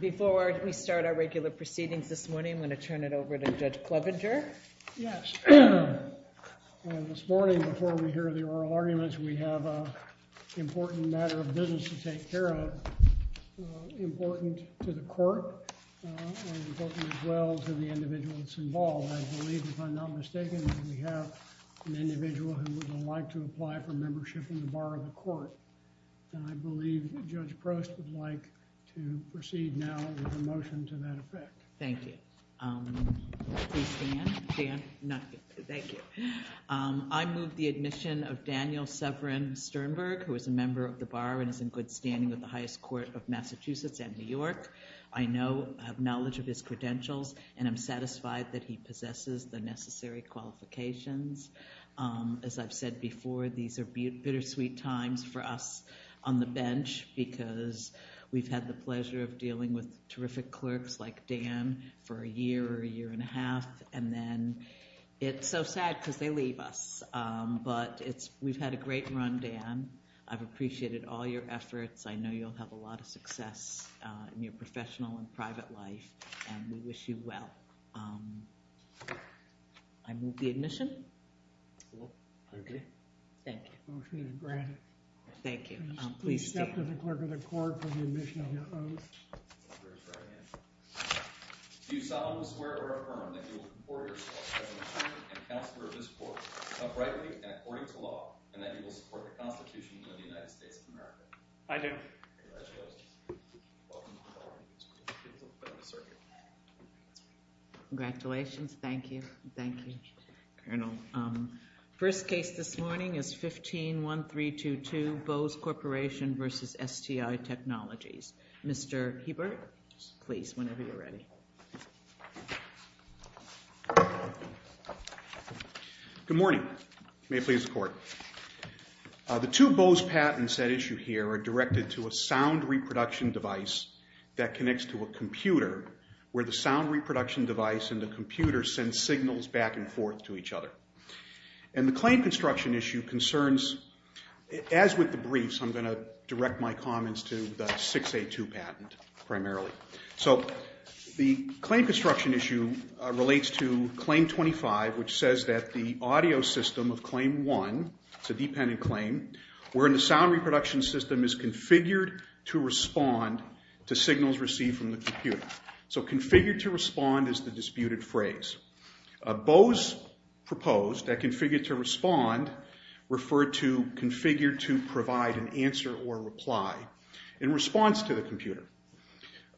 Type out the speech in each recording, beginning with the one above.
Before we start our regular proceedings this morning, I'm going to turn it over to Judge Clevenger. Yes. This morning, before we hear the oral arguments, we have an important matter of business to take care of. Important to the court and important as well to the individuals involved. I believe, if I'm not mistaken, we have an individual who would like to apply for membership in the Bar of the Court. And I believe Judge Prost would like to proceed now with a motion to that effect. Thank you. Please stand. Thank you. I move the admission of Daniel Severin Sternberg, who is a member of the Bar and is in good standing with the highest court of Massachusetts and New York. I know, I have knowledge of his credentials, and I'm satisfied that he possesses the necessary qualifications. As I've said before, these are bittersweet times for us on the bench because we've had the pleasure of dealing with terrific clerks like Dan for a year or a year and a half. And then it's so sad because they leave us. But we've had a great run, Dan. I've appreciated all your efforts. I know you'll have a lot of success in your professional and private life. And we wish you well. I move the admission. Thank you. Motion is granted. Thank you. Please stand. Please step to the clerk of the court for the admission of your oath. Do you solemnly swear or affirm that you will comport yourself as an attorney and counselor of this court, uprightly and according to law, and that you will support the Constitution of the United States of America? I do. Congratulations. Congratulations. Thank you. Thank you, Colonel. First case this morning is 151322, Bose Corporation v. STI Technologies. Mr. Hebert, please, whenever you're ready. Good morning. May it please the court. The two Bose patents at issue here are directed to a sound reproduction device that connects to a computer where the sound reproduction device and the computer send signals back and forth to each other. And the claim construction issue concerns, as with the briefs, I'm going to direct my comments to the 6A2 patent primarily. So the claim construction issue relates to Claim 25, which says that the audio system of Claim 1, it's a dependent claim, wherein the sound reproduction system is configured to respond to signals received from the computer. So configured to respond is the disputed phrase. Bose proposed that configured to respond referred to configured to provide an answer or reply in response to the computer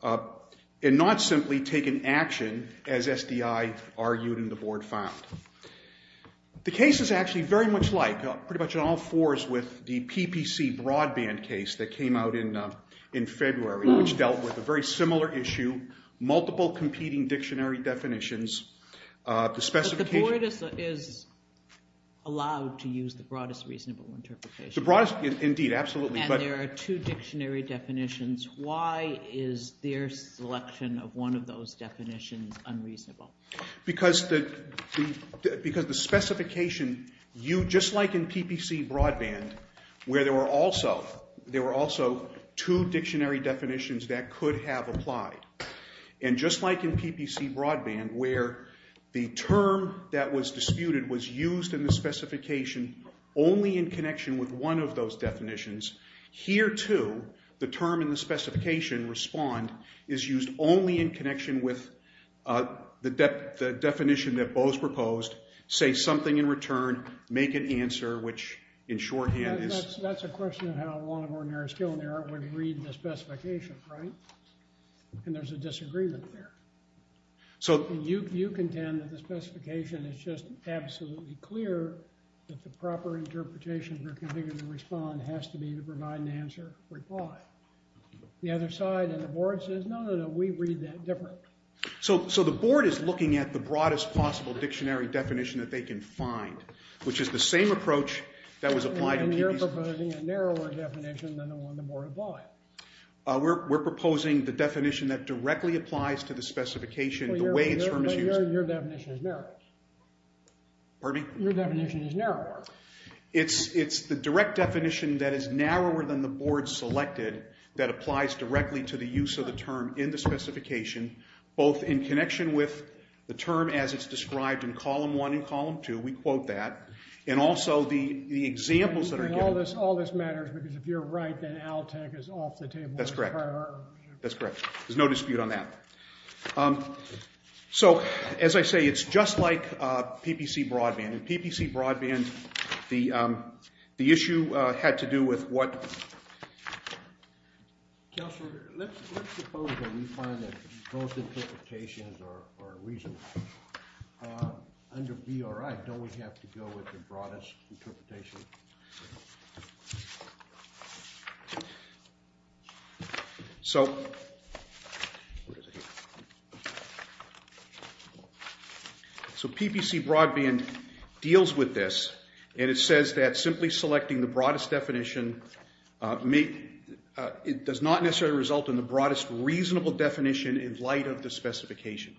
and not simply take an action as STI argued and the board found. The case is actually very much like pretty much all fours with the PPC broadband case that came out in February, which dealt with a very similar issue. Multiple competing dictionary definitions. The board is allowed to use the broadest reasonable interpretation. Indeed, absolutely. And there are two dictionary definitions. Why is their selection of one of those definitions unreasonable? Because the specification, just like in PPC broadband, where there were also two dictionary definitions that could have applied. And just like in PPC broadband, where the term that was disputed was used in the specification only in connection with one of those definitions. Here, too, the term in the specification, respond, is used only in connection with the definition that Bose proposed. Say something in return. Make an answer, which in shorthand is... That's a question of how a lot of ordinary skill in the art would read the specification, right? And there's a disagreement there. You contend that the specification is just absolutely clear that the proper interpretation for configuring the respond has to be to provide an answer, reply. The other side and the board says, no, no, no, we read that different. So the board is looking at the broadest possible dictionary definition that they can find, which is the same approach that was applied in PPC. And you're proposing a narrower definition than the one the board applied. We're proposing the definition that directly applies to the specification. But your definition is narrower. Pardon me? Your definition is narrower. It's the direct definition that is narrower than the board selected that applies directly to the use of the term in the specification, both in connection with the term as it's described in column one and column two, we quote that, and also the examples that are given. All this matters because if you're right, then ALTEC is off the table. That's correct. That's correct. There's no dispute on that. So as I say, it's just like PPC broadband. In PPC broadband, the issue had to do with what? Counselor, let's suppose that we find that both interpretations are reasonable. Under BRI, don't we have to go with the broadest interpretation? So PPC broadband deals with this, and it says that simply selecting the broadest definition does not necessarily result in the broadest reasonable definition in light of the specification.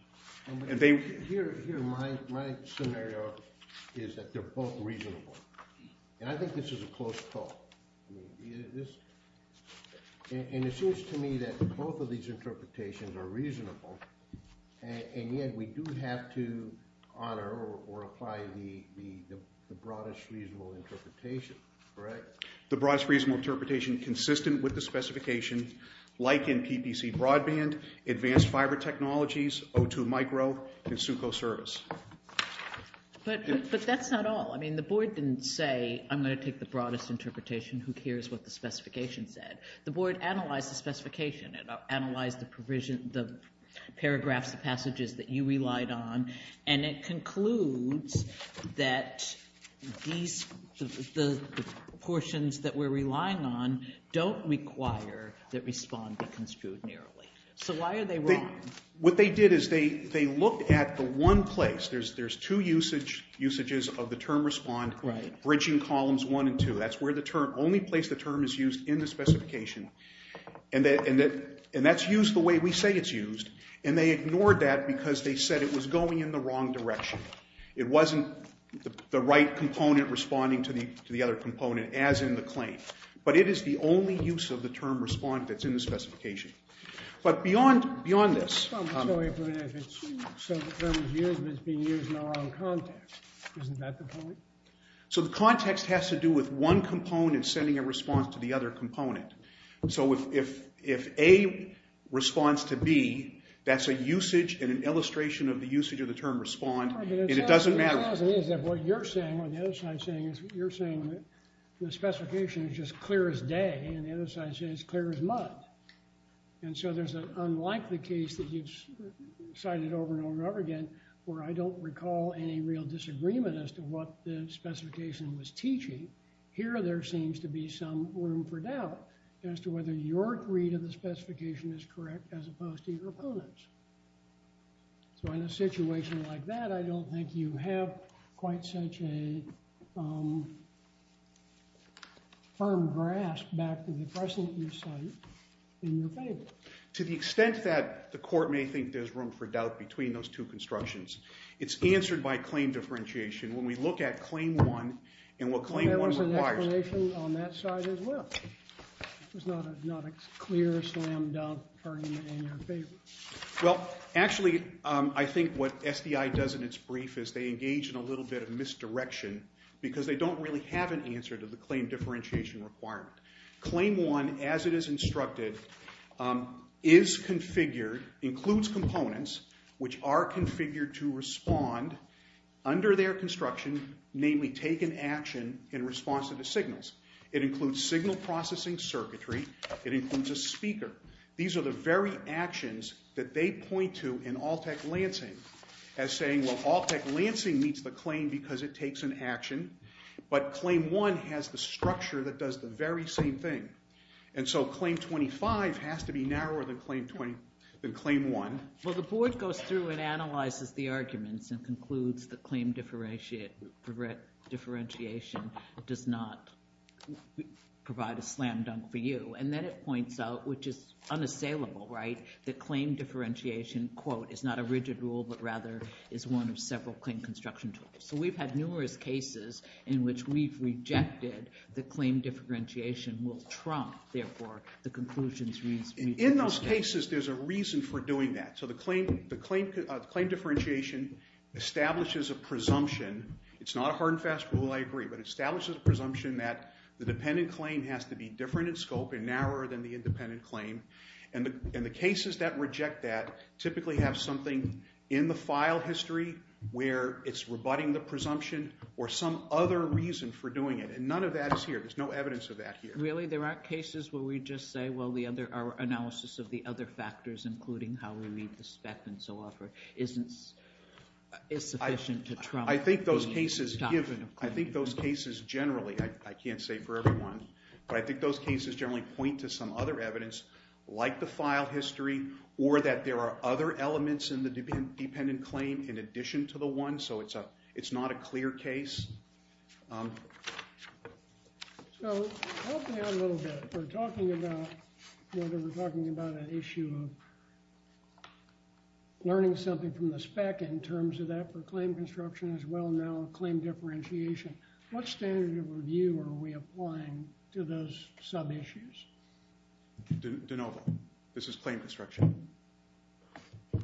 Here, my scenario is that they're both reasonable, and I think this is a close call. And it seems to me that both of these interpretations are reasonable, and yet we do have to honor or apply the broadest reasonable interpretation, correct? The broadest reasonable interpretation consistent with the specification like in PPC broadband, advanced fiber technologies, O2 micro, and SUCO service. But that's not all. I mean, the board didn't say, I'm going to take the broadest interpretation. Who cares what the specification said? The board analyzed the specification. It analyzed the paragraphs, the passages that you relied on. And it concludes that these, the portions that we're relying on don't require that RESPOND be construed narrowly. So why are they wrong? What they did is they looked at the one place. There's two usages of the term RESPOND, bridging columns 1 and 2. That's where the term, only place the term is used in the specification, and that's used the way we say it's used. And they ignored that because they said it was going in the wrong direction. It wasn't the right component responding to the other component as in the claim. But it is the only use of the term RESPOND that's in the specification. But beyond this. So the term is used, but it's being used in the wrong context. Isn't that the point? So the context has to do with one component sending a response to the other component. So if A responds to B, that's a usage and an illustration of the usage of the term RESPOND. And it doesn't matter. What you're saying, what the other side is saying is you're saying the specification is just clear as day. And the other side says it's clear as mud. And so there's an unlikely case that you've cited over and over and over again, where I don't recall any real disagreement as to what the specification was teaching. Here there seems to be some room for doubt as to whether your read of the specification is correct as opposed to your opponent's. So in a situation like that, I don't think you have quite such a firm grasp back to the precedent you cite in your favor. To the extent that the court may think there's room for doubt between those two constructions, it's answered by claim differentiation. When we look at Claim 1 and what Claim 1 requires- There was an explanation on that side as well. It was not a clear slam-dunk argument in your favor. Well, actually, I think what SDI does in its brief is they engage in a little bit of misdirection because they don't really have an answer to the claim differentiation requirement. Claim 1, as it is instructed, is configured, includes components, which are configured to respond under their construction, namely take an action in response to the signals. It includes signal processing circuitry. It includes a speaker. These are the very actions that they point to in Alltech Lansing as saying, well, Alltech Lansing meets the claim because it takes an action, but Claim 1 has the structure that does the very same thing. And so Claim 25 has to be narrower than Claim 1. Well, the board goes through and analyzes the arguments and concludes that claim differentiation does not provide a slam-dunk for you. And then it points out, which is unassailable, right, that claim differentiation, quote, is not a rigid rule, but rather is one of several claim construction tools. So we've had numerous cases in which we've rejected that claim differentiation will trump, therefore, the conclusions we've made. In those cases, there's a reason for doing that. So the claim differentiation establishes a presumption. It's not a hard and fast rule, I agree, but it establishes a presumption that the dependent claim has to be different in scope and narrower than the independent claim. And the cases that reject that typically have something in the file history where it's rebutting the presumption or some other reason for doing it. And none of that is here. There's no evidence of that here. Really, there aren't cases where we just say, well, our analysis of the other factors, including how we read the spec and so forth, is sufficient to trump the document of claim. I think those cases generally, I can't say for everyone, but I think those cases generally point to some other evidence like the file history or that there are other elements in the dependent claim in addition to the one. So it's not a clear case. So help me out a little bit. We're talking about whether we're talking about an issue of learning something from the spec in terms of that for claim construction as well now, claim differentiation. What standard of review are we applying to those sub-issues? De novo. This is claim construction. And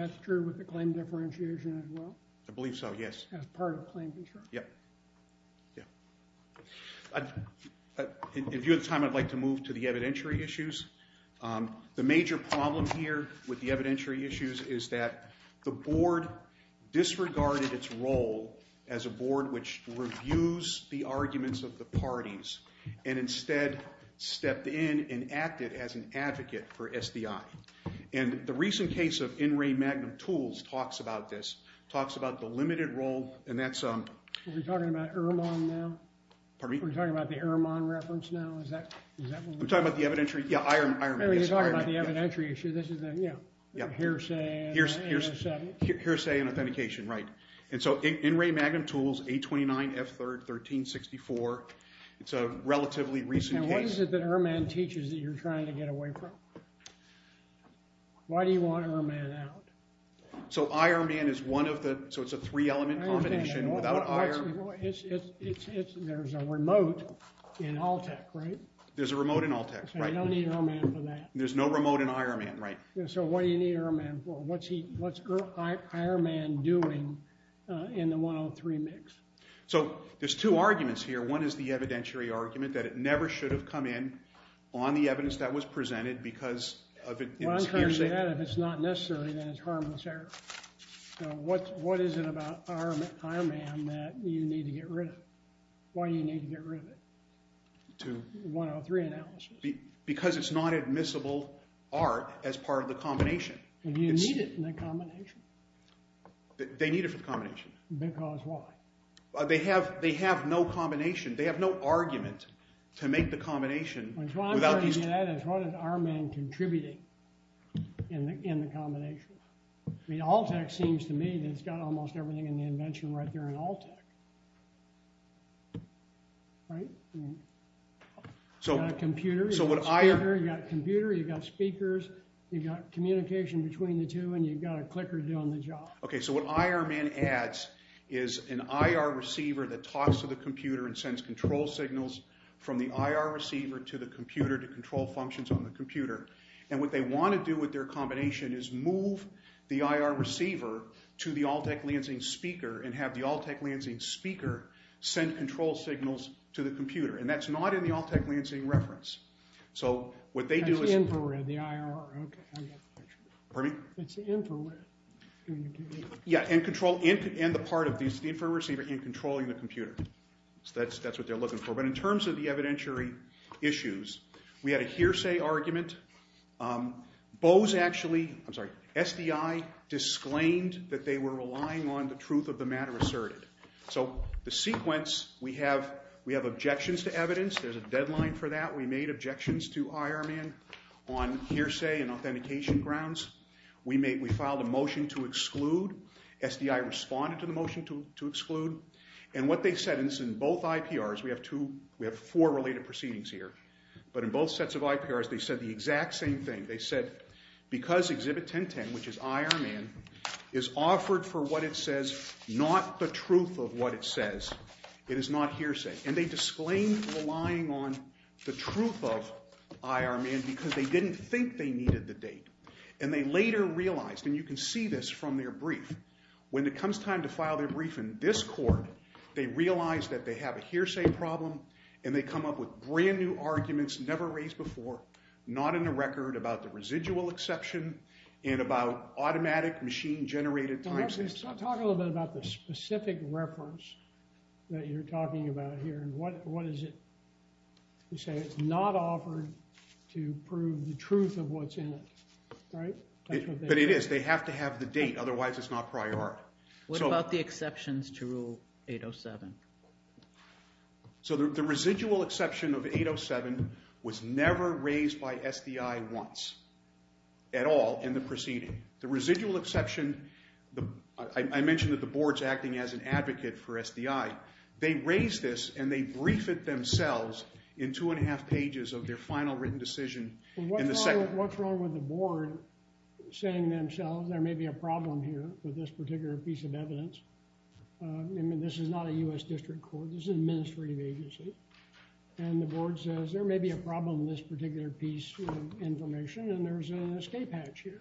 that's true with the claim differentiation as well? I believe so, yes. As part of claim differentiation. Yeah. If you have time, I'd like to move to the evidentiary issues. The major problem here with the evidentiary issues is that the board disregarded its role as a board which reviews the arguments of the parties and instead stepped in and acted as an advocate for SDI. And the recent case of In Re Magnum Tools talks about this, talks about the limited role. Are we talking about Irman now? Pardon me? Are we talking about the Irman reference now? I'm talking about the evidentiary. Yeah, Irman. You're talking about the evidentiary issue. This is the hearsay and authentication. Right. And so In Re Magnum Tools, 829 F3rd 1364. It's a relatively recent case. And what is it that Irman teaches that you're trying to get away from? Why do you want Irman out? So Irman is one of the – so it's a three-element combination without Irman. There's a remote in ALTEC, right? There's a remote in ALTEC, right? So you don't need Irman for that. There's no remote in Irman, right? So what do you need Irman for? What's Irman doing in the 103 mix? So there's two arguments here. One is the evidentiary argument that it never should have come in on the evidence that was presented because of its hearsay. If it's not necessary, then it's harmless error. So what is it about Irman that you need to get rid of? Why do you need to get rid of it? The 103 analysis. Because it's not admissible art as part of the combination. You need it in the combination. They need it for the combination. Because why? They have no combination. They have no argument to make the combination without these – What I'm trying to get at is what is Irman contributing in the combination? I mean, ALTEC seems to me that it's got almost everything in the invention right there in ALTEC. Right? You've got a computer. You've got a speaker. You've got a computer. You've got speakers. You've got communication between the two, and you've got a clicker doing the job. Okay, so what Irman adds is an IR receiver that talks to the computer and sends control signals from the IR receiver to the computer to control functions on the computer. And what they want to do with their combination is move the IR receiver to the ALTEC Lansing speaker and have the ALTEC Lansing speaker send control signals to the computer. And that's not in the ALTEC Lansing reference. So what they do is – That's the infrared, the IR. Okay, I got the picture. Pardon me? It's the infrared. Yeah, and control – and the part of the infrared receiver in controlling the computer. That's what they're looking for. But in terms of the evidentiary issues, we had a hearsay argument. Bose actually – I'm sorry, SDI – disclaimed that they were relying on the truth of the matter asserted. So the sequence, we have objections to evidence. There's a deadline for that. We made objections to Irman on hearsay and authentication grounds. We filed a motion to exclude. And what they said in both IPRs – we have two – we have four related proceedings here. But in both sets of IPRs, they said the exact same thing. They said because Exhibit 1010, which is Irman, is offered for what it says, not the truth of what it says, it is not hearsay. And they disclaimed relying on the truth of Irman because they didn't think they needed the date. And they later realized – and you can see this from their brief – when it comes time to file their brief in this court, they realize that they have a hearsay problem and they come up with brand-new arguments never raised before, not in the record, about the residual exception and about automatic machine-generated time stamps. Let's talk a little bit about the specific reference that you're talking about here. What is it? You say it's not offered to prove the truth of what's in it, right? But it is. You have to have the date. Otherwise, it's not prior art. What about the exceptions to Rule 807? The residual exception of 807 was never raised by SDI once at all in the proceeding. The residual exception – I mentioned that the board's acting as an advocate for SDI. They raised this and they briefed it themselves in two and a half pages of their final written decision. What's wrong with the board saying themselves there may be a problem here with this particular piece of evidence? I mean, this is not a U.S. district court. This is an administrative agency. And the board says there may be a problem in this particular piece of information and there's an escape hatch here.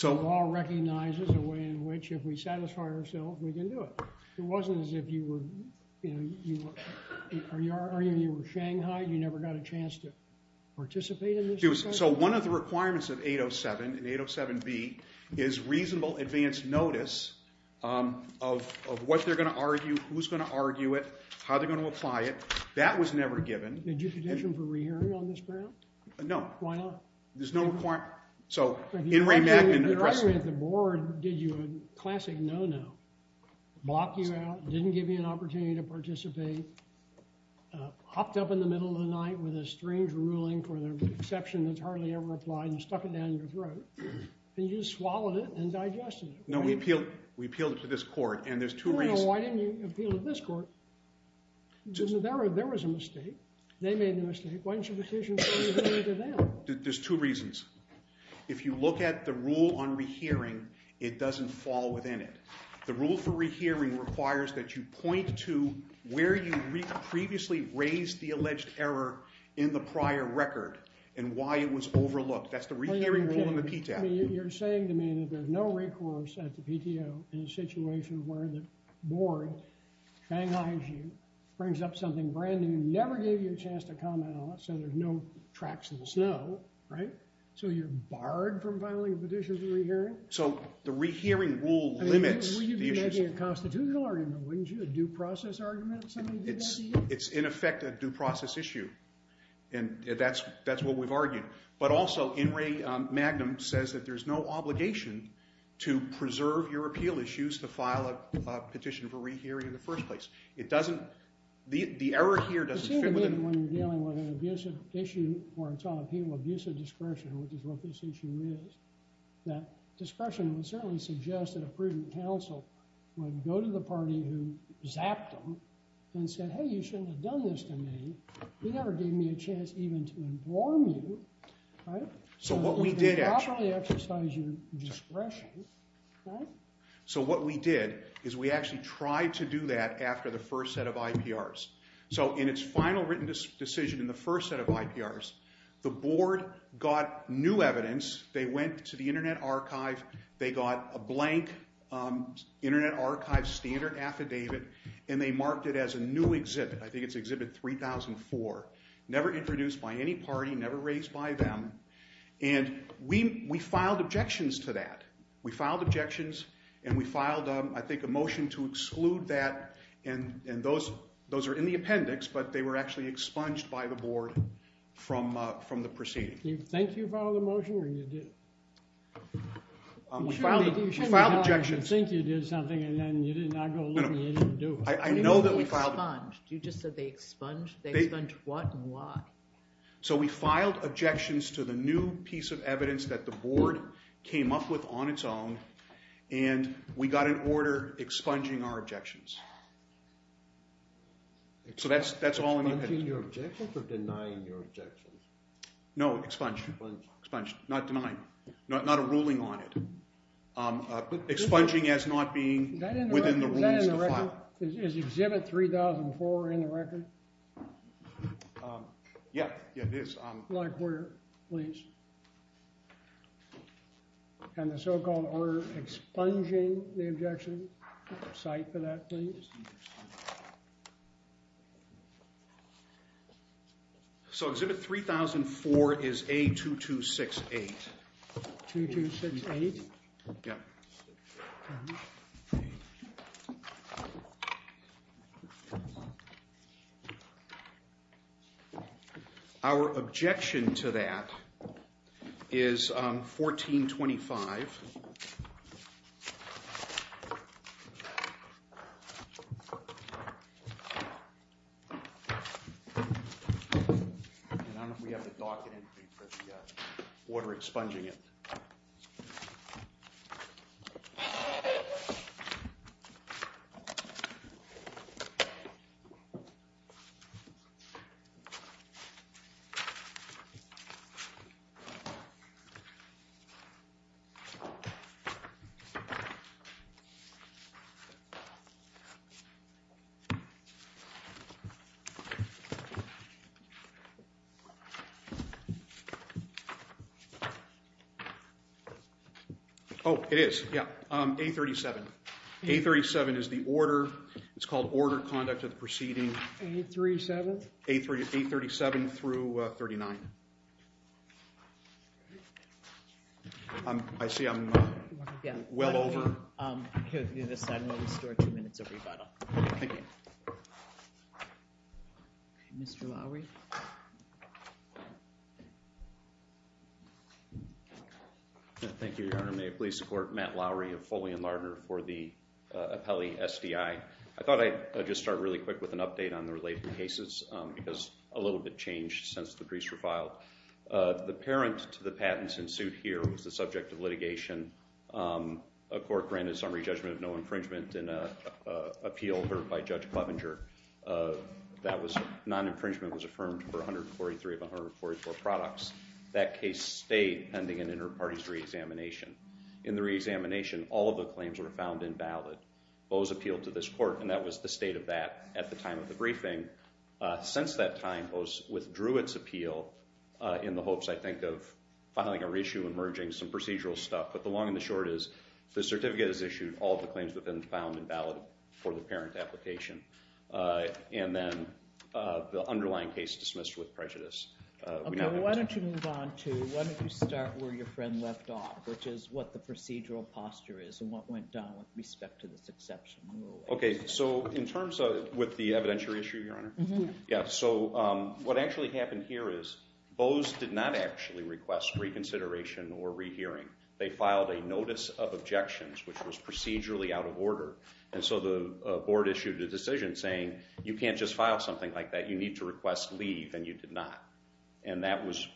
The law recognizes a way in which if we satisfy ourselves, we can do it. It wasn't as if you were – or even if you were Shanghai, you never got a chance to participate in this. So one of the requirements of 807, in 807B, is reasonable advance notice of what they're going to argue, who's going to argue it, how they're going to apply it. That was never given. Did you petition for re-hearing on this ground? No. Why not? There's no requirement. So Enri Magnin addressed it. Your argument at the board did you a classic no-no, blocked you out, didn't give you an opportunity to participate, hopped up in the middle of the night with a strange ruling for the exception that's hardly ever applied and stuck it down your throat, and you just swallowed it and digested it. No, we appealed it to this court and there's two reasons. Why didn't you appeal it to this court? There was a mistake. They made the mistake. Why didn't you petition for re-hearing to them? There's two reasons. If you look at the rule on re-hearing, it doesn't fall within it. The rule for re-hearing requires that you point to where you previously raised the alleged error in the prior record and why it was overlooked. That's the re-hearing rule in the PTAP. You're saying to me that there's no recourse at the PTO in a situation where the board fang-eyes you, brings up something brand new, never gave you a chance to comment on it, so there's no tracks in the snow, right? So you're barred from filing a petition for re-hearing? So the re-hearing rule limits the issues. You'd be making a constitutional argument, wouldn't you? A due process argument? Somebody did that to you? It's, in effect, a due process issue. And that's what we've argued. But also, In re Magnum says that there's no obligation to preserve your appeal issues to file a petition for re-hearing in the first place. The error here doesn't fit within it. It seems to me that when you're dealing with an abusive issue or it's on appeal, abusive discretion, which is what this issue is, that discretion would certainly suggest that a prudent counsel would go to the party who zapped them and said, hey, you shouldn't have done this to me. You never gave me a chance even to inform you, right? So what we did actually exercise your discretion, right? So what we did is we actually tried to do that after the first set of IPRs. So in its final written decision in the first set of IPRs, the board got new evidence. They went to the Internet Archive. They got a blank Internet Archive standard affidavit. And they marked it as a new exhibit. I think it's exhibit 3004. Never introduced by any party, never raised by them. And we filed objections to that. We filed objections. And we filed, I think, a motion to exclude that. And those are in the appendix. But they were actually expunged by the board from the proceeding. Do you think you filed a motion, or you didn't? We filed objections. You think you did something, and then you did not go look. You didn't do it. I know that we filed them. You just said they expunged? They expunged what and why? So we filed objections to the new piece of evidence that the board came up with on its own. And we got an order expunging our objections. So that's all in the appendix. Expunging your objections or denying your objections? No, expunged. Expunged, not denying. Not a ruling on it. Expunging as not being within the rules to file. Is exhibit 3004 in the record? Yeah, it is. Like where, please? And the so-called order expunging the objection, cite for that, please? So exhibit 3004 is A2268. 2268? Yeah. Our objection to that is 1425. And I don't know if we have the docket entry for the order expunging it. Oh, it is. Yeah. A37. A37 is the order. It's called order conduct of the proceeding. A37? A37 through 39. I see I'm well over. We'll restore two minutes of rebuttal. Thank you. Mr. Lowery. Thank you, Your Honor. May it please the court. Matt Lowery of Foley and Lardner for the appellee SDI. I thought I'd just start really quick with an update on the related cases because a little bit changed since the briefs were filed. The parent to the patents in suit here was the subject of litigation. A court granted summary judgment of no infringement in an appeal heard by Judge Clevenger. Non-infringement was affirmed for 143 of 144 products. That case stayed pending an inter-parties re-examination. In the re-examination, all of the claims were found invalid. Bowes appealed to this court, and that was the state of that at the time of the hearing. Since that time, Bowes withdrew its appeal in the hopes, I think, of filing a reissue and merging some procedural stuff. But the long and the short is, the certificate is issued, all the claims have been found invalid for the parent application. And then the underlying case dismissed with prejudice. Why don't you move on to, why don't you start where your friend left off, which is what the procedural posture is and what went down with respect to this exception. Okay, so in terms of, with the evidentiary issue, Your Honor? Mm-hmm. Yeah, so what actually happened here is, Bowes did not actually request reconsideration or rehearing. They filed a notice of objections, which was procedurally out of order. And so the board issued a decision saying, you can't just file something like that. You need to request leave, and you did not. And that was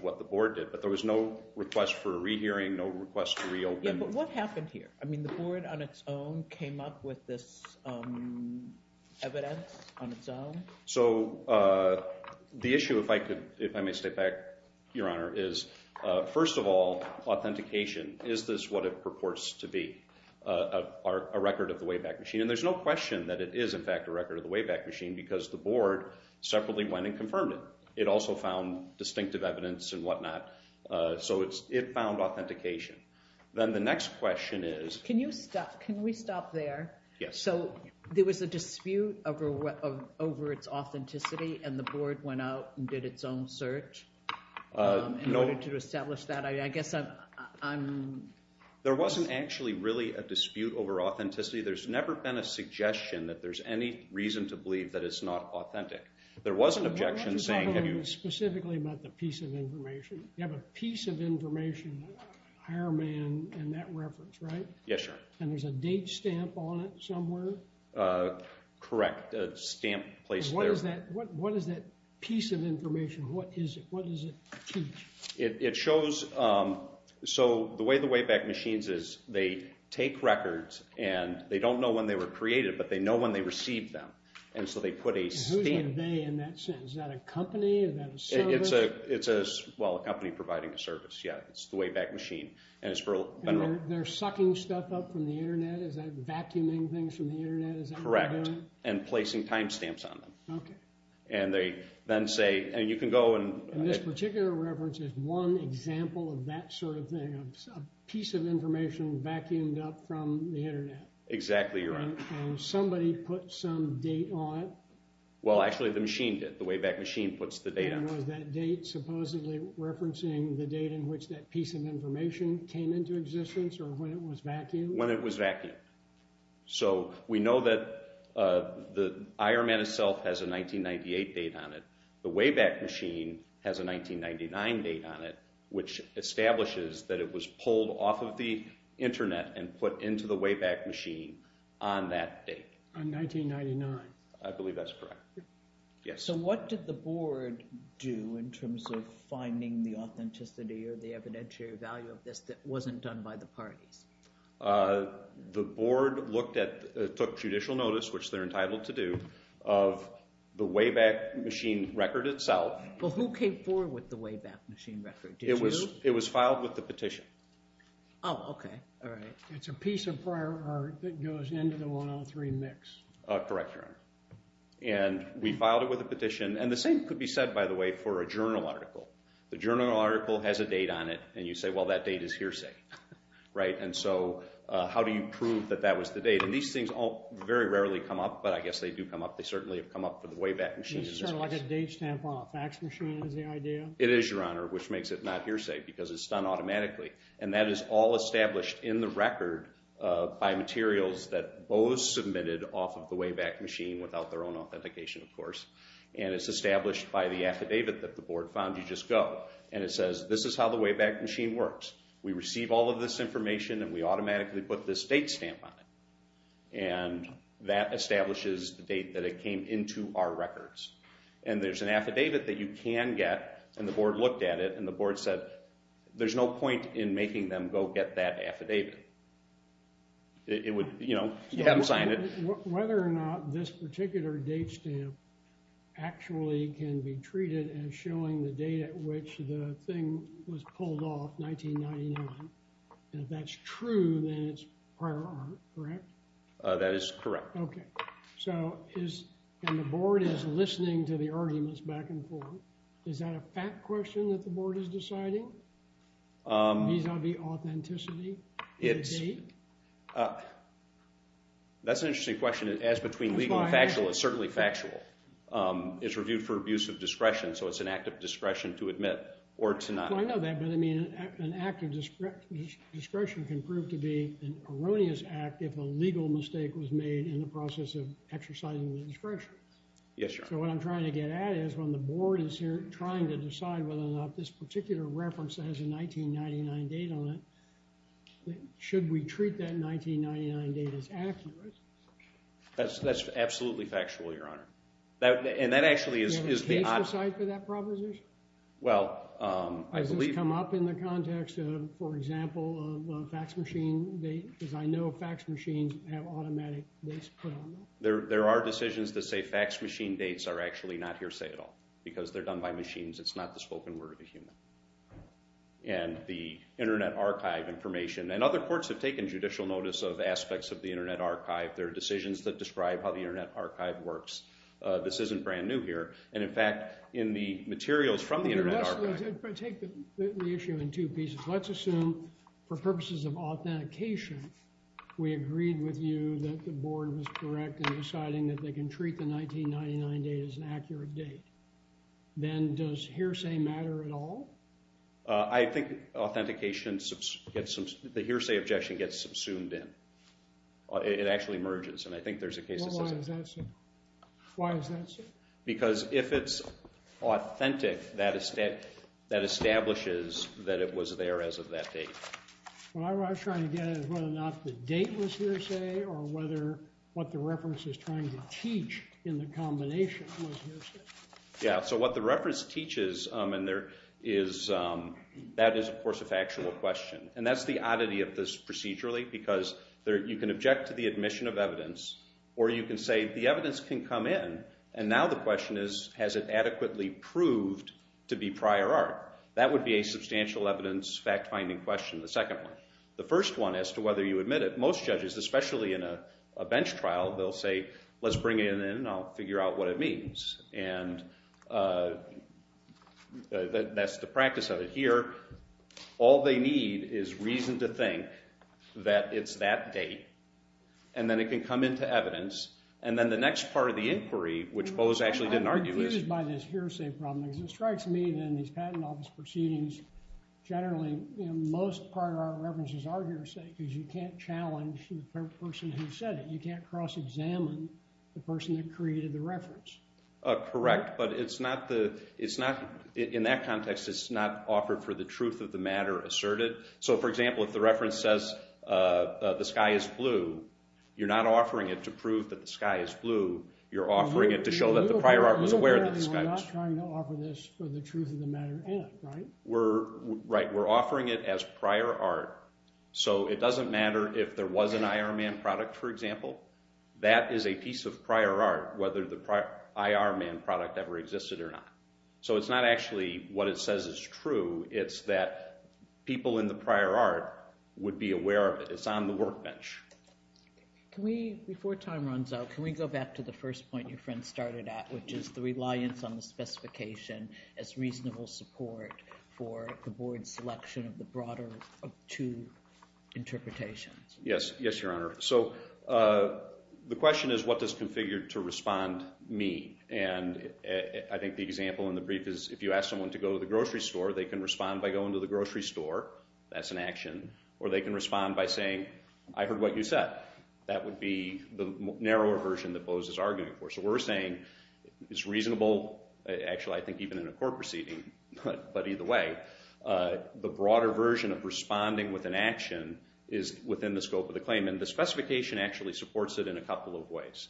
what the board did. But there was no request for a rehearing, no request to reopen. Yeah, but what happened here? I mean, the board on its own came up with this evidence on its own? So the issue, if I may step back, Your Honor, is, first of all, authentication. Is this what it purports to be, a record of the Wayback Machine? And there's no question that it is, in fact, a record of the Wayback Machine because the board separately went and confirmed it. It also found distinctive evidence and whatnot. So it found authentication. Then the next question is? Can you stop? Can we stop there? Yes. So there was a dispute over its authenticity, and the board went out and did its own search in order to establish that? I guess I'm... There wasn't actually really a dispute over authenticity. There's never been a suggestion that there's any reason to believe that it's not authentic. There was an objection saying... I want to talk specifically about the piece of information. You have a piece of information, Hireman, in that reference, right? Yes, Your Honor. And there's a date stamp on it somewhere? Correct. A stamp placed there. What is that piece of information? What is it? What does it teach? It shows... So the way the Wayback Machines is, they take records, and they don't know when they were created, but they know when they received them. And so they put a stamp... And who are they in that sense? Is that a company? Is that a service? It's a company providing a service. Yeah, it's the Wayback Machine. And they're sucking stuff up from the Internet? Is that vacuuming things from the Internet? Is that what they're doing? Correct. And placing time stamps on them. Okay. And they then say... And you can go and... And this particular reference is one example of that sort of thing, a piece of information vacuumed up from the Internet? Exactly, Your Honor. And somebody put some date on it? Well, actually, the machine did. The Wayback Machine puts the date on it. And was that date supposedly referencing the date in which that piece of information came into existence or when it was vacuumed? When it was vacuumed. So we know that the IR-Man itself has a 1998 date on it. The Wayback Machine has a 1999 date on it, which establishes that it was pulled off of the Internet and put into the Wayback Machine on that date. On 1999. I believe that's correct. Yes. So what did the board do in terms of finding the authenticity or the evidentiary value of this that wasn't done by the parties? The board looked at, took judicial notice, which they're entitled to do, of the Wayback Machine record itself. Well, who came forward with the Wayback Machine record? It was filed with the petition. Oh, okay. All right. It's a piece of prior art that goes into the 103 mix. Correct, Your Honor. And we filed it with a petition. And the same could be said, by the way, for a journal article. The journal article has a date on it, and you say, well, that date is hearsay. Right? And so how do you prove that that was the date? And these things very rarely come up, but I guess they do come up. They certainly have come up for the Wayback Machine. It's sort of like a date stamp on a fax machine is the idea? It is, Your Honor, which makes it not hearsay because it's done automatically. And that is all established in the record by materials that Bo submitted off of the Wayback Machine without their own authentication, of course. And it's established by the affidavit that the board found you just go. And it says, this is how the Wayback Machine works. We receive all of this information, and we automatically put this date stamp on it. And that establishes the date that it came into our records. And there's an affidavit that you can get, and the board looked at it, and the board said there's no point in making them go get that affidavit. It would, you know, you have them sign it. Whether or not this particular date stamp actually can be treated as showing the date at which the thing was pulled off, 1999, and if that's true, then it's prior art, correct? That is correct. Okay. So is, and the board is listening to the arguments back and forth. Is that a fact question that the board is deciding? Vis-a-vis authenticity? That's an interesting question. As between legal and factual, it's certainly factual. It's reviewed for abuse of discretion. So it's an act of discretion to admit or to not admit. I know that, but I mean, an act of discretion can prove to be an erroneous act if a legal mistake was made in the process of exercising the discretion. Yes, sir. So what I'm trying to get at is when the board is here trying to decide whether or not this particular reference has a 1999 date on it, should we treat that 1999 date as accurate? That's absolutely factual, Your Honor. And that actually is the opposite. Do you have a case for that proposition? Well, I believe. Has this come up in the context of, for example, a fax machine date? Because I know fax machines have automatic dates put on them. There are decisions to say fax machine dates are actually not hearsay at all because they're done by machines. It's not the spoken word of the human. And the Internet Archive information, and other courts have taken judicial notice of aspects of the Internet Archive. There are decisions that describe how the Internet Archive works. This isn't brand new here. And, in fact, in the materials from the Internet Archive— Take the issue in two pieces. Let's assume for purposes of authentication, we agreed with you that the board was correct in deciding that they can treat the 1999 date as an accurate date. Then does hearsay matter at all? I think authentication—the hearsay objection gets subsumed in. It actually merges, and I think there's a case that says— Well, why is that so? Why is that so? Because if it's authentic, that establishes that it was there as of that date. What I was trying to get at is whether or not the date was hearsay or whether what the reference is trying to teach in the combination was hearsay. Yeah, so what the reference teaches, and there is— that is, of course, a factual question. And that's the oddity of this procedurally because you can object to the admission of evidence or you can say the evidence can come in, and now the question is, has it adequately proved to be prior art? That would be a substantial evidence fact-finding question, the second one. The first one as to whether you admit it. And most judges, especially in a bench trial, they'll say, let's bring it in and I'll figure out what it means. And that's the practice of it here. All they need is reason to think that it's that date, and then it can come into evidence, and then the next part of the inquiry, which Bose actually didn't argue, is— I'm confused by this hearsay problem. It strikes me that in these patent office proceedings, generally most prior art references are hearsay because you can't challenge the person who said it. You can't cross-examine the person that created the reference. Correct, but it's not the— in that context, it's not offered for the truth of the matter asserted. So, for example, if the reference says the sky is blue, you're not offering it to prove that the sky is blue. You're offering it to show that the prior art was aware that the sky was— We're not trying to offer this for the truth of the matter in it, right? Right. We're offering it as prior art so it doesn't matter if there was an IR man product, for example. That is a piece of prior art, whether the IR man product ever existed or not. So it's not actually what it says is true. It's that people in the prior art would be aware of it. It's on the workbench. Before time runs out, can we go back to the first point your friend started at, which is the reliance on the specification as reasonable support for the board's selection of the broader of two interpretations? Yes, Your Honor. So the question is what does configured to respond mean? And I think the example in the brief is if you ask someone to go to the grocery store, they can respond by going to the grocery store. That's an action. Or they can respond by saying, I heard what you said. That would be the narrower version that Boaz is arguing for. So we're saying it's reasonable, actually I think even in a court proceeding, but either way, the broader version of responding with an action is within the scope of the claim. And the specification actually supports it in a couple of ways.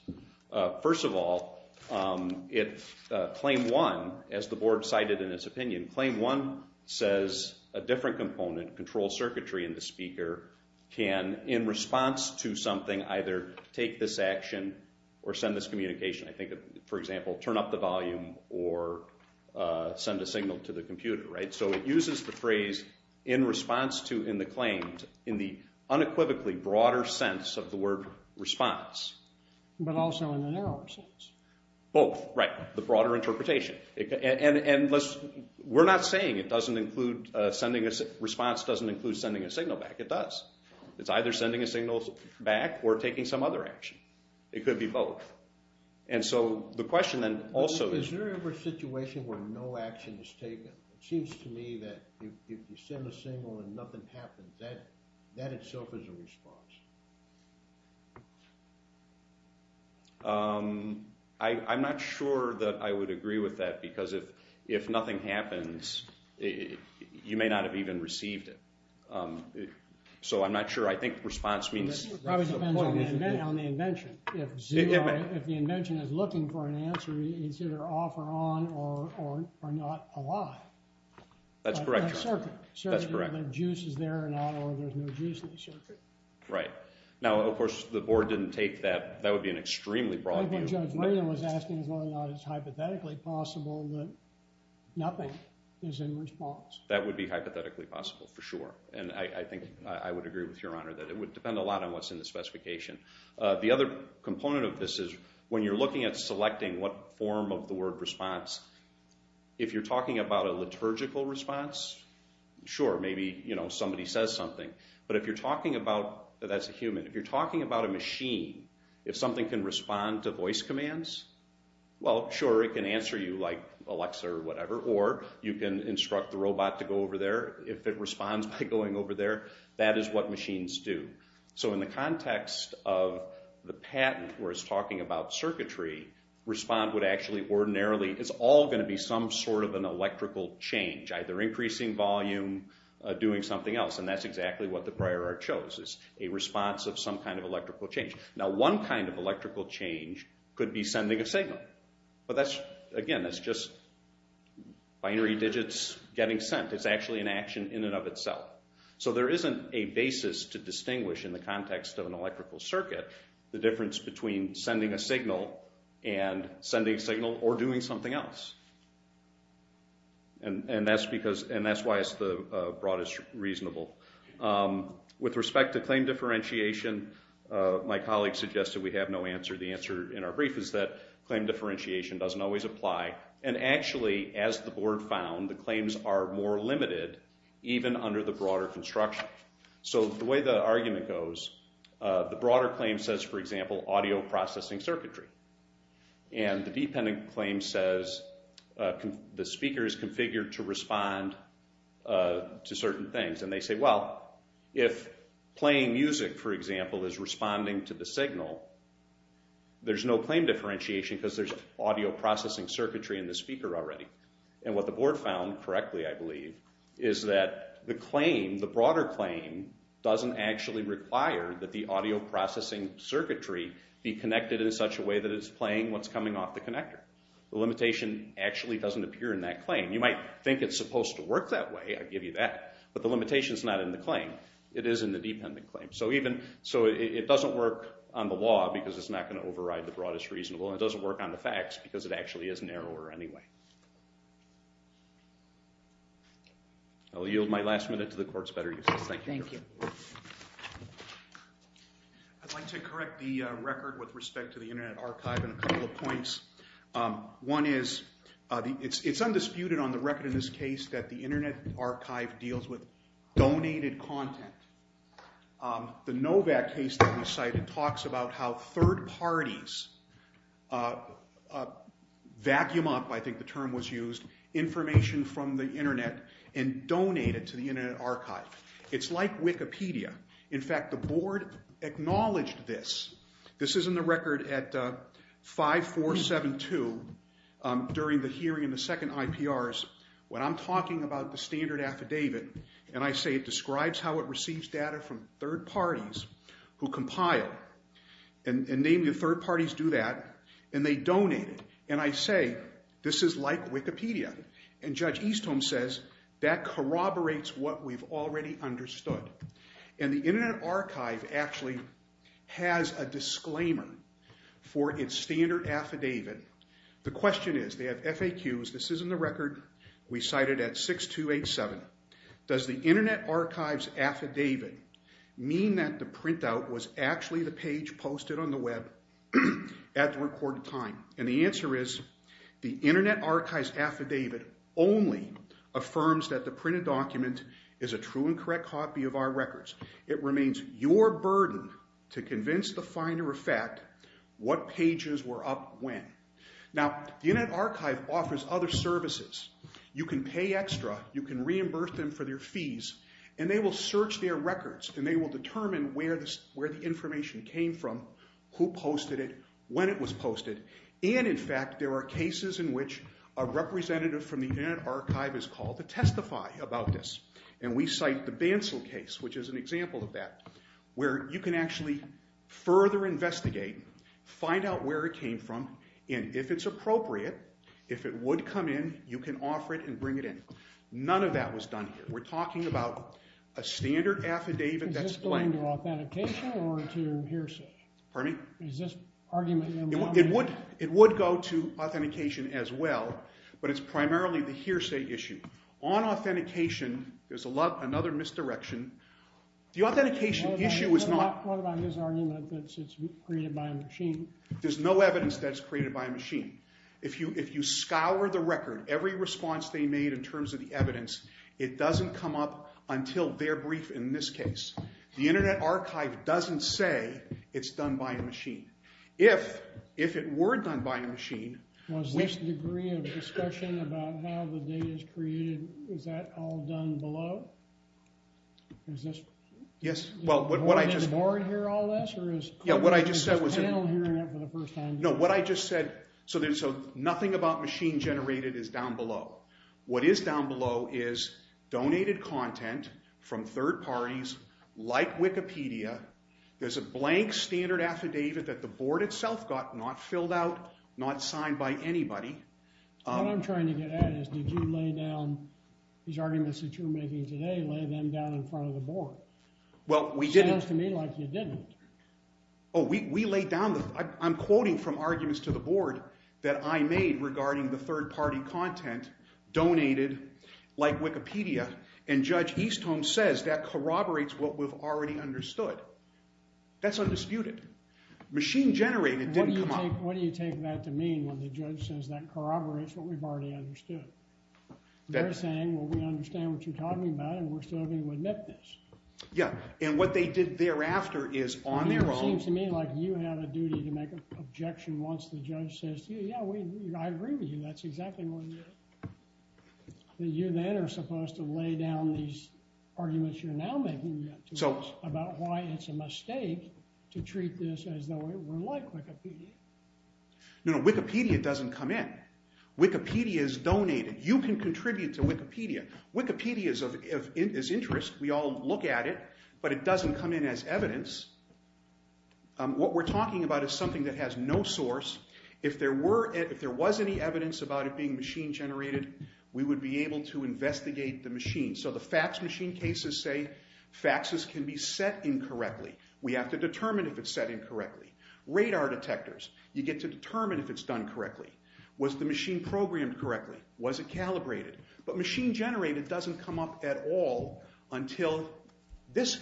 First of all, Claim 1, as the board cited in its opinion, Claim 1 says a different component, control circuitry in the speaker, can in response to something either take this action or send this communication. I think, for example, turn up the volume or send a signal to the computer. So it uses the phrase in response to, in the claims, in the unequivocally broader sense of the word response. But also in the narrower sense. Both, right, the broader interpretation. And we're not saying it doesn't include sending a response, doesn't include sending a signal back. It does. It's either sending a signal back or taking some other action. It could be both. And so the question then also is... Is there ever a situation where no action is taken? It seems to me that if you send a signal and nothing happens, that itself is a response. I'm not sure that I would agree with that because if nothing happens, you may not have even received it. So I'm not sure. I think response means... It probably depends on the invention. If the invention is looking for an answer, it's either off or on or not alive. That's correct, Your Honor. That's correct. Whether the juice is there or not or there's no juice in the circuit. Right. Now, of course, the board didn't take that. That would be an extremely broad view. Judge Raynor was asking whether or not it's hypothetically possible that nothing is in response. That would be hypothetically possible for sure. And I think I would agree with Your Honor that it would depend a lot on what's in the specification. The other component of this is when you're looking at selecting what form of the word response, if you're talking about a liturgical response, sure, maybe somebody says something. But if you're talking about... That's a human. If you're talking about a machine, if something can respond to voice commands, well, sure, it can answer you like Alexa or whatever, or you can instruct the robot to go over there. If it responds by going over there, that is what machines do. So in the context of the patent where it's talking about circuitry, respond would actually ordinarily... It's all going to be some sort of an electrical change, either increasing volume, doing something else, and that's exactly what the prior art shows, is a response of some kind of electrical change. Now, one kind of electrical change could be sending a signal. But that's, again, that's just binary digits getting sent. It's actually an action in and of itself. So there isn't a basis to distinguish, in the context of an electrical circuit, the difference between sending a signal and sending a signal or doing something else. And that's why it's the broadest reasonable. With respect to claim differentiation, my colleague suggested we have no answer. The answer in our brief is that claim differentiation doesn't always apply. And actually, as the board found, the claims are more limited even under the broader construction. So the way the argument goes, the broader claim says, for example, audio processing circuitry. And the dependent claim says the speaker is configured to respond to certain things. And they say, well, if playing music, for example, is responding to the signal, there's no claim differentiation because there's audio processing circuitry in the speaker already. And what the board found correctly, I believe, is that the claim, the broader claim, doesn't actually require that the audio processing circuitry be connected in such a way that it's playing what's coming off the connector. The limitation actually doesn't appear in that claim. You might think it's supposed to work that way, I give you that. But the limitation's not in the claim. It is in the dependent claim. So it doesn't work on the law because it's not going to override the broadest reasonable and it doesn't work on the facts because it actually is narrower anyway. I'll yield my last minute to the court's better uses. Thank you. Thank you. I'd like to correct the record with respect to the Internet Archive in a couple of points. One is, it's undisputed on the record in this case The Novak case that we cited talks about how third parties vacuum up, I think the term was used, information from the Internet and donate it to the Internet Archive. It's like Wikipedia. In fact, the board acknowledged this. This is in the record at 5472 during the hearing in the second IPRs when I'm talking about the standard affidavit and I say it describes how it receives data from third parties who compile and namely the third parties do that and they donate it. And I say, this is like Wikipedia. And Judge Eastholm says that corroborates what we've already understood. And the Internet Archive actually has a disclaimer for its standard affidavit. The question is, they have FAQs, this is in the record we cited at 6287. Does the Internet Archive's affidavit mean that the printout was actually the page posted on the web at the recorded time? And the answer is, the Internet Archive's affidavit only affirms that the printed document is a true and correct copy of our records. It remains your burden to convince the finder of fact what pages were up when. Now, the Internet Archive offers other services. You can pay extra, you can reimburse them for their fees and they will search their records and they will determine where the information came from, who posted it, when it was posted. And in fact, there are cases in which a representative from the Internet Archive is called to testify about this. And we cite the Bansal case, which is an example of that, where you can actually further investigate, find out where it came from, and if it's appropriate, if it would come in, you can offer it and bring it in. None of that was done here. We're talking about a standard affidavit that's blank. Is this going to authentication or to hearsay? It would go to authentication as well, but it's primarily the hearsay issue. On authentication, there's another misdirection. The authentication issue is not... What about his argument that it's created by a machine? There's no evidence that it's created by a machine. If you scour the record, every response they made in terms of the evidence, it doesn't come up until their brief in this case. The Internet Archive doesn't say it's done by a machine. If it were done by a machine... Was this a degree of discussion about how the data is created? Is that all done below? Is this... Yes, well, what I just... Is this panel hearing it for the first time? No, what I just said... Nothing about machine-generated is down below. What is down below is donated content from third parties like Wikipedia. There's a blank standard affidavit that the board itself got not filled out, not signed by anybody. What I'm trying to get at is did you lay down these arguments that you're making today, lay them down in front of the board? Well, we didn't. Sounds to me like you didn't. Oh, we laid down... I'm quoting from arguments to the board that I made regarding the third-party content donated like Wikipedia, and Judge Eastholm says that corroborates what we've already understood. That's undisputed. Machine-generated didn't come up... What do you take that to mean when the judge says that corroborates what we've already understood? They're saying, well, we understand what you're talking about and we're still going to admit this. Yeah, and what they did thereafter is on their own... It seems to me like you have a duty to make an objection once the judge says, yeah, I agree with you. That's exactly what it is. You then are supposed to lay down these arguments you're now making about why it's a mistake to treat this as though it were like Wikipedia. No, no, Wikipedia doesn't come in. Wikipedia is donated. You can contribute to Wikipedia. Wikipedia is of interest. We all look at it, but it doesn't come in as evidence. What we're talking about is something that has no source. If there was any evidence about it being machine-generated, we would be able to investigate the machine. So the fax machine cases say faxes can be set incorrectly. We have to determine if it's set incorrectly. Radar detectors, you get to determine if it's done correctly. Was the machine programmed correctly? Was it calibrated? But machine-generated doesn't come up at all until this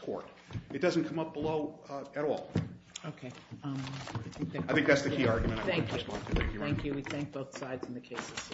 court. It doesn't come up below at all. Okay. I think that's the key argument. Thank you. We thank both sides in the cases.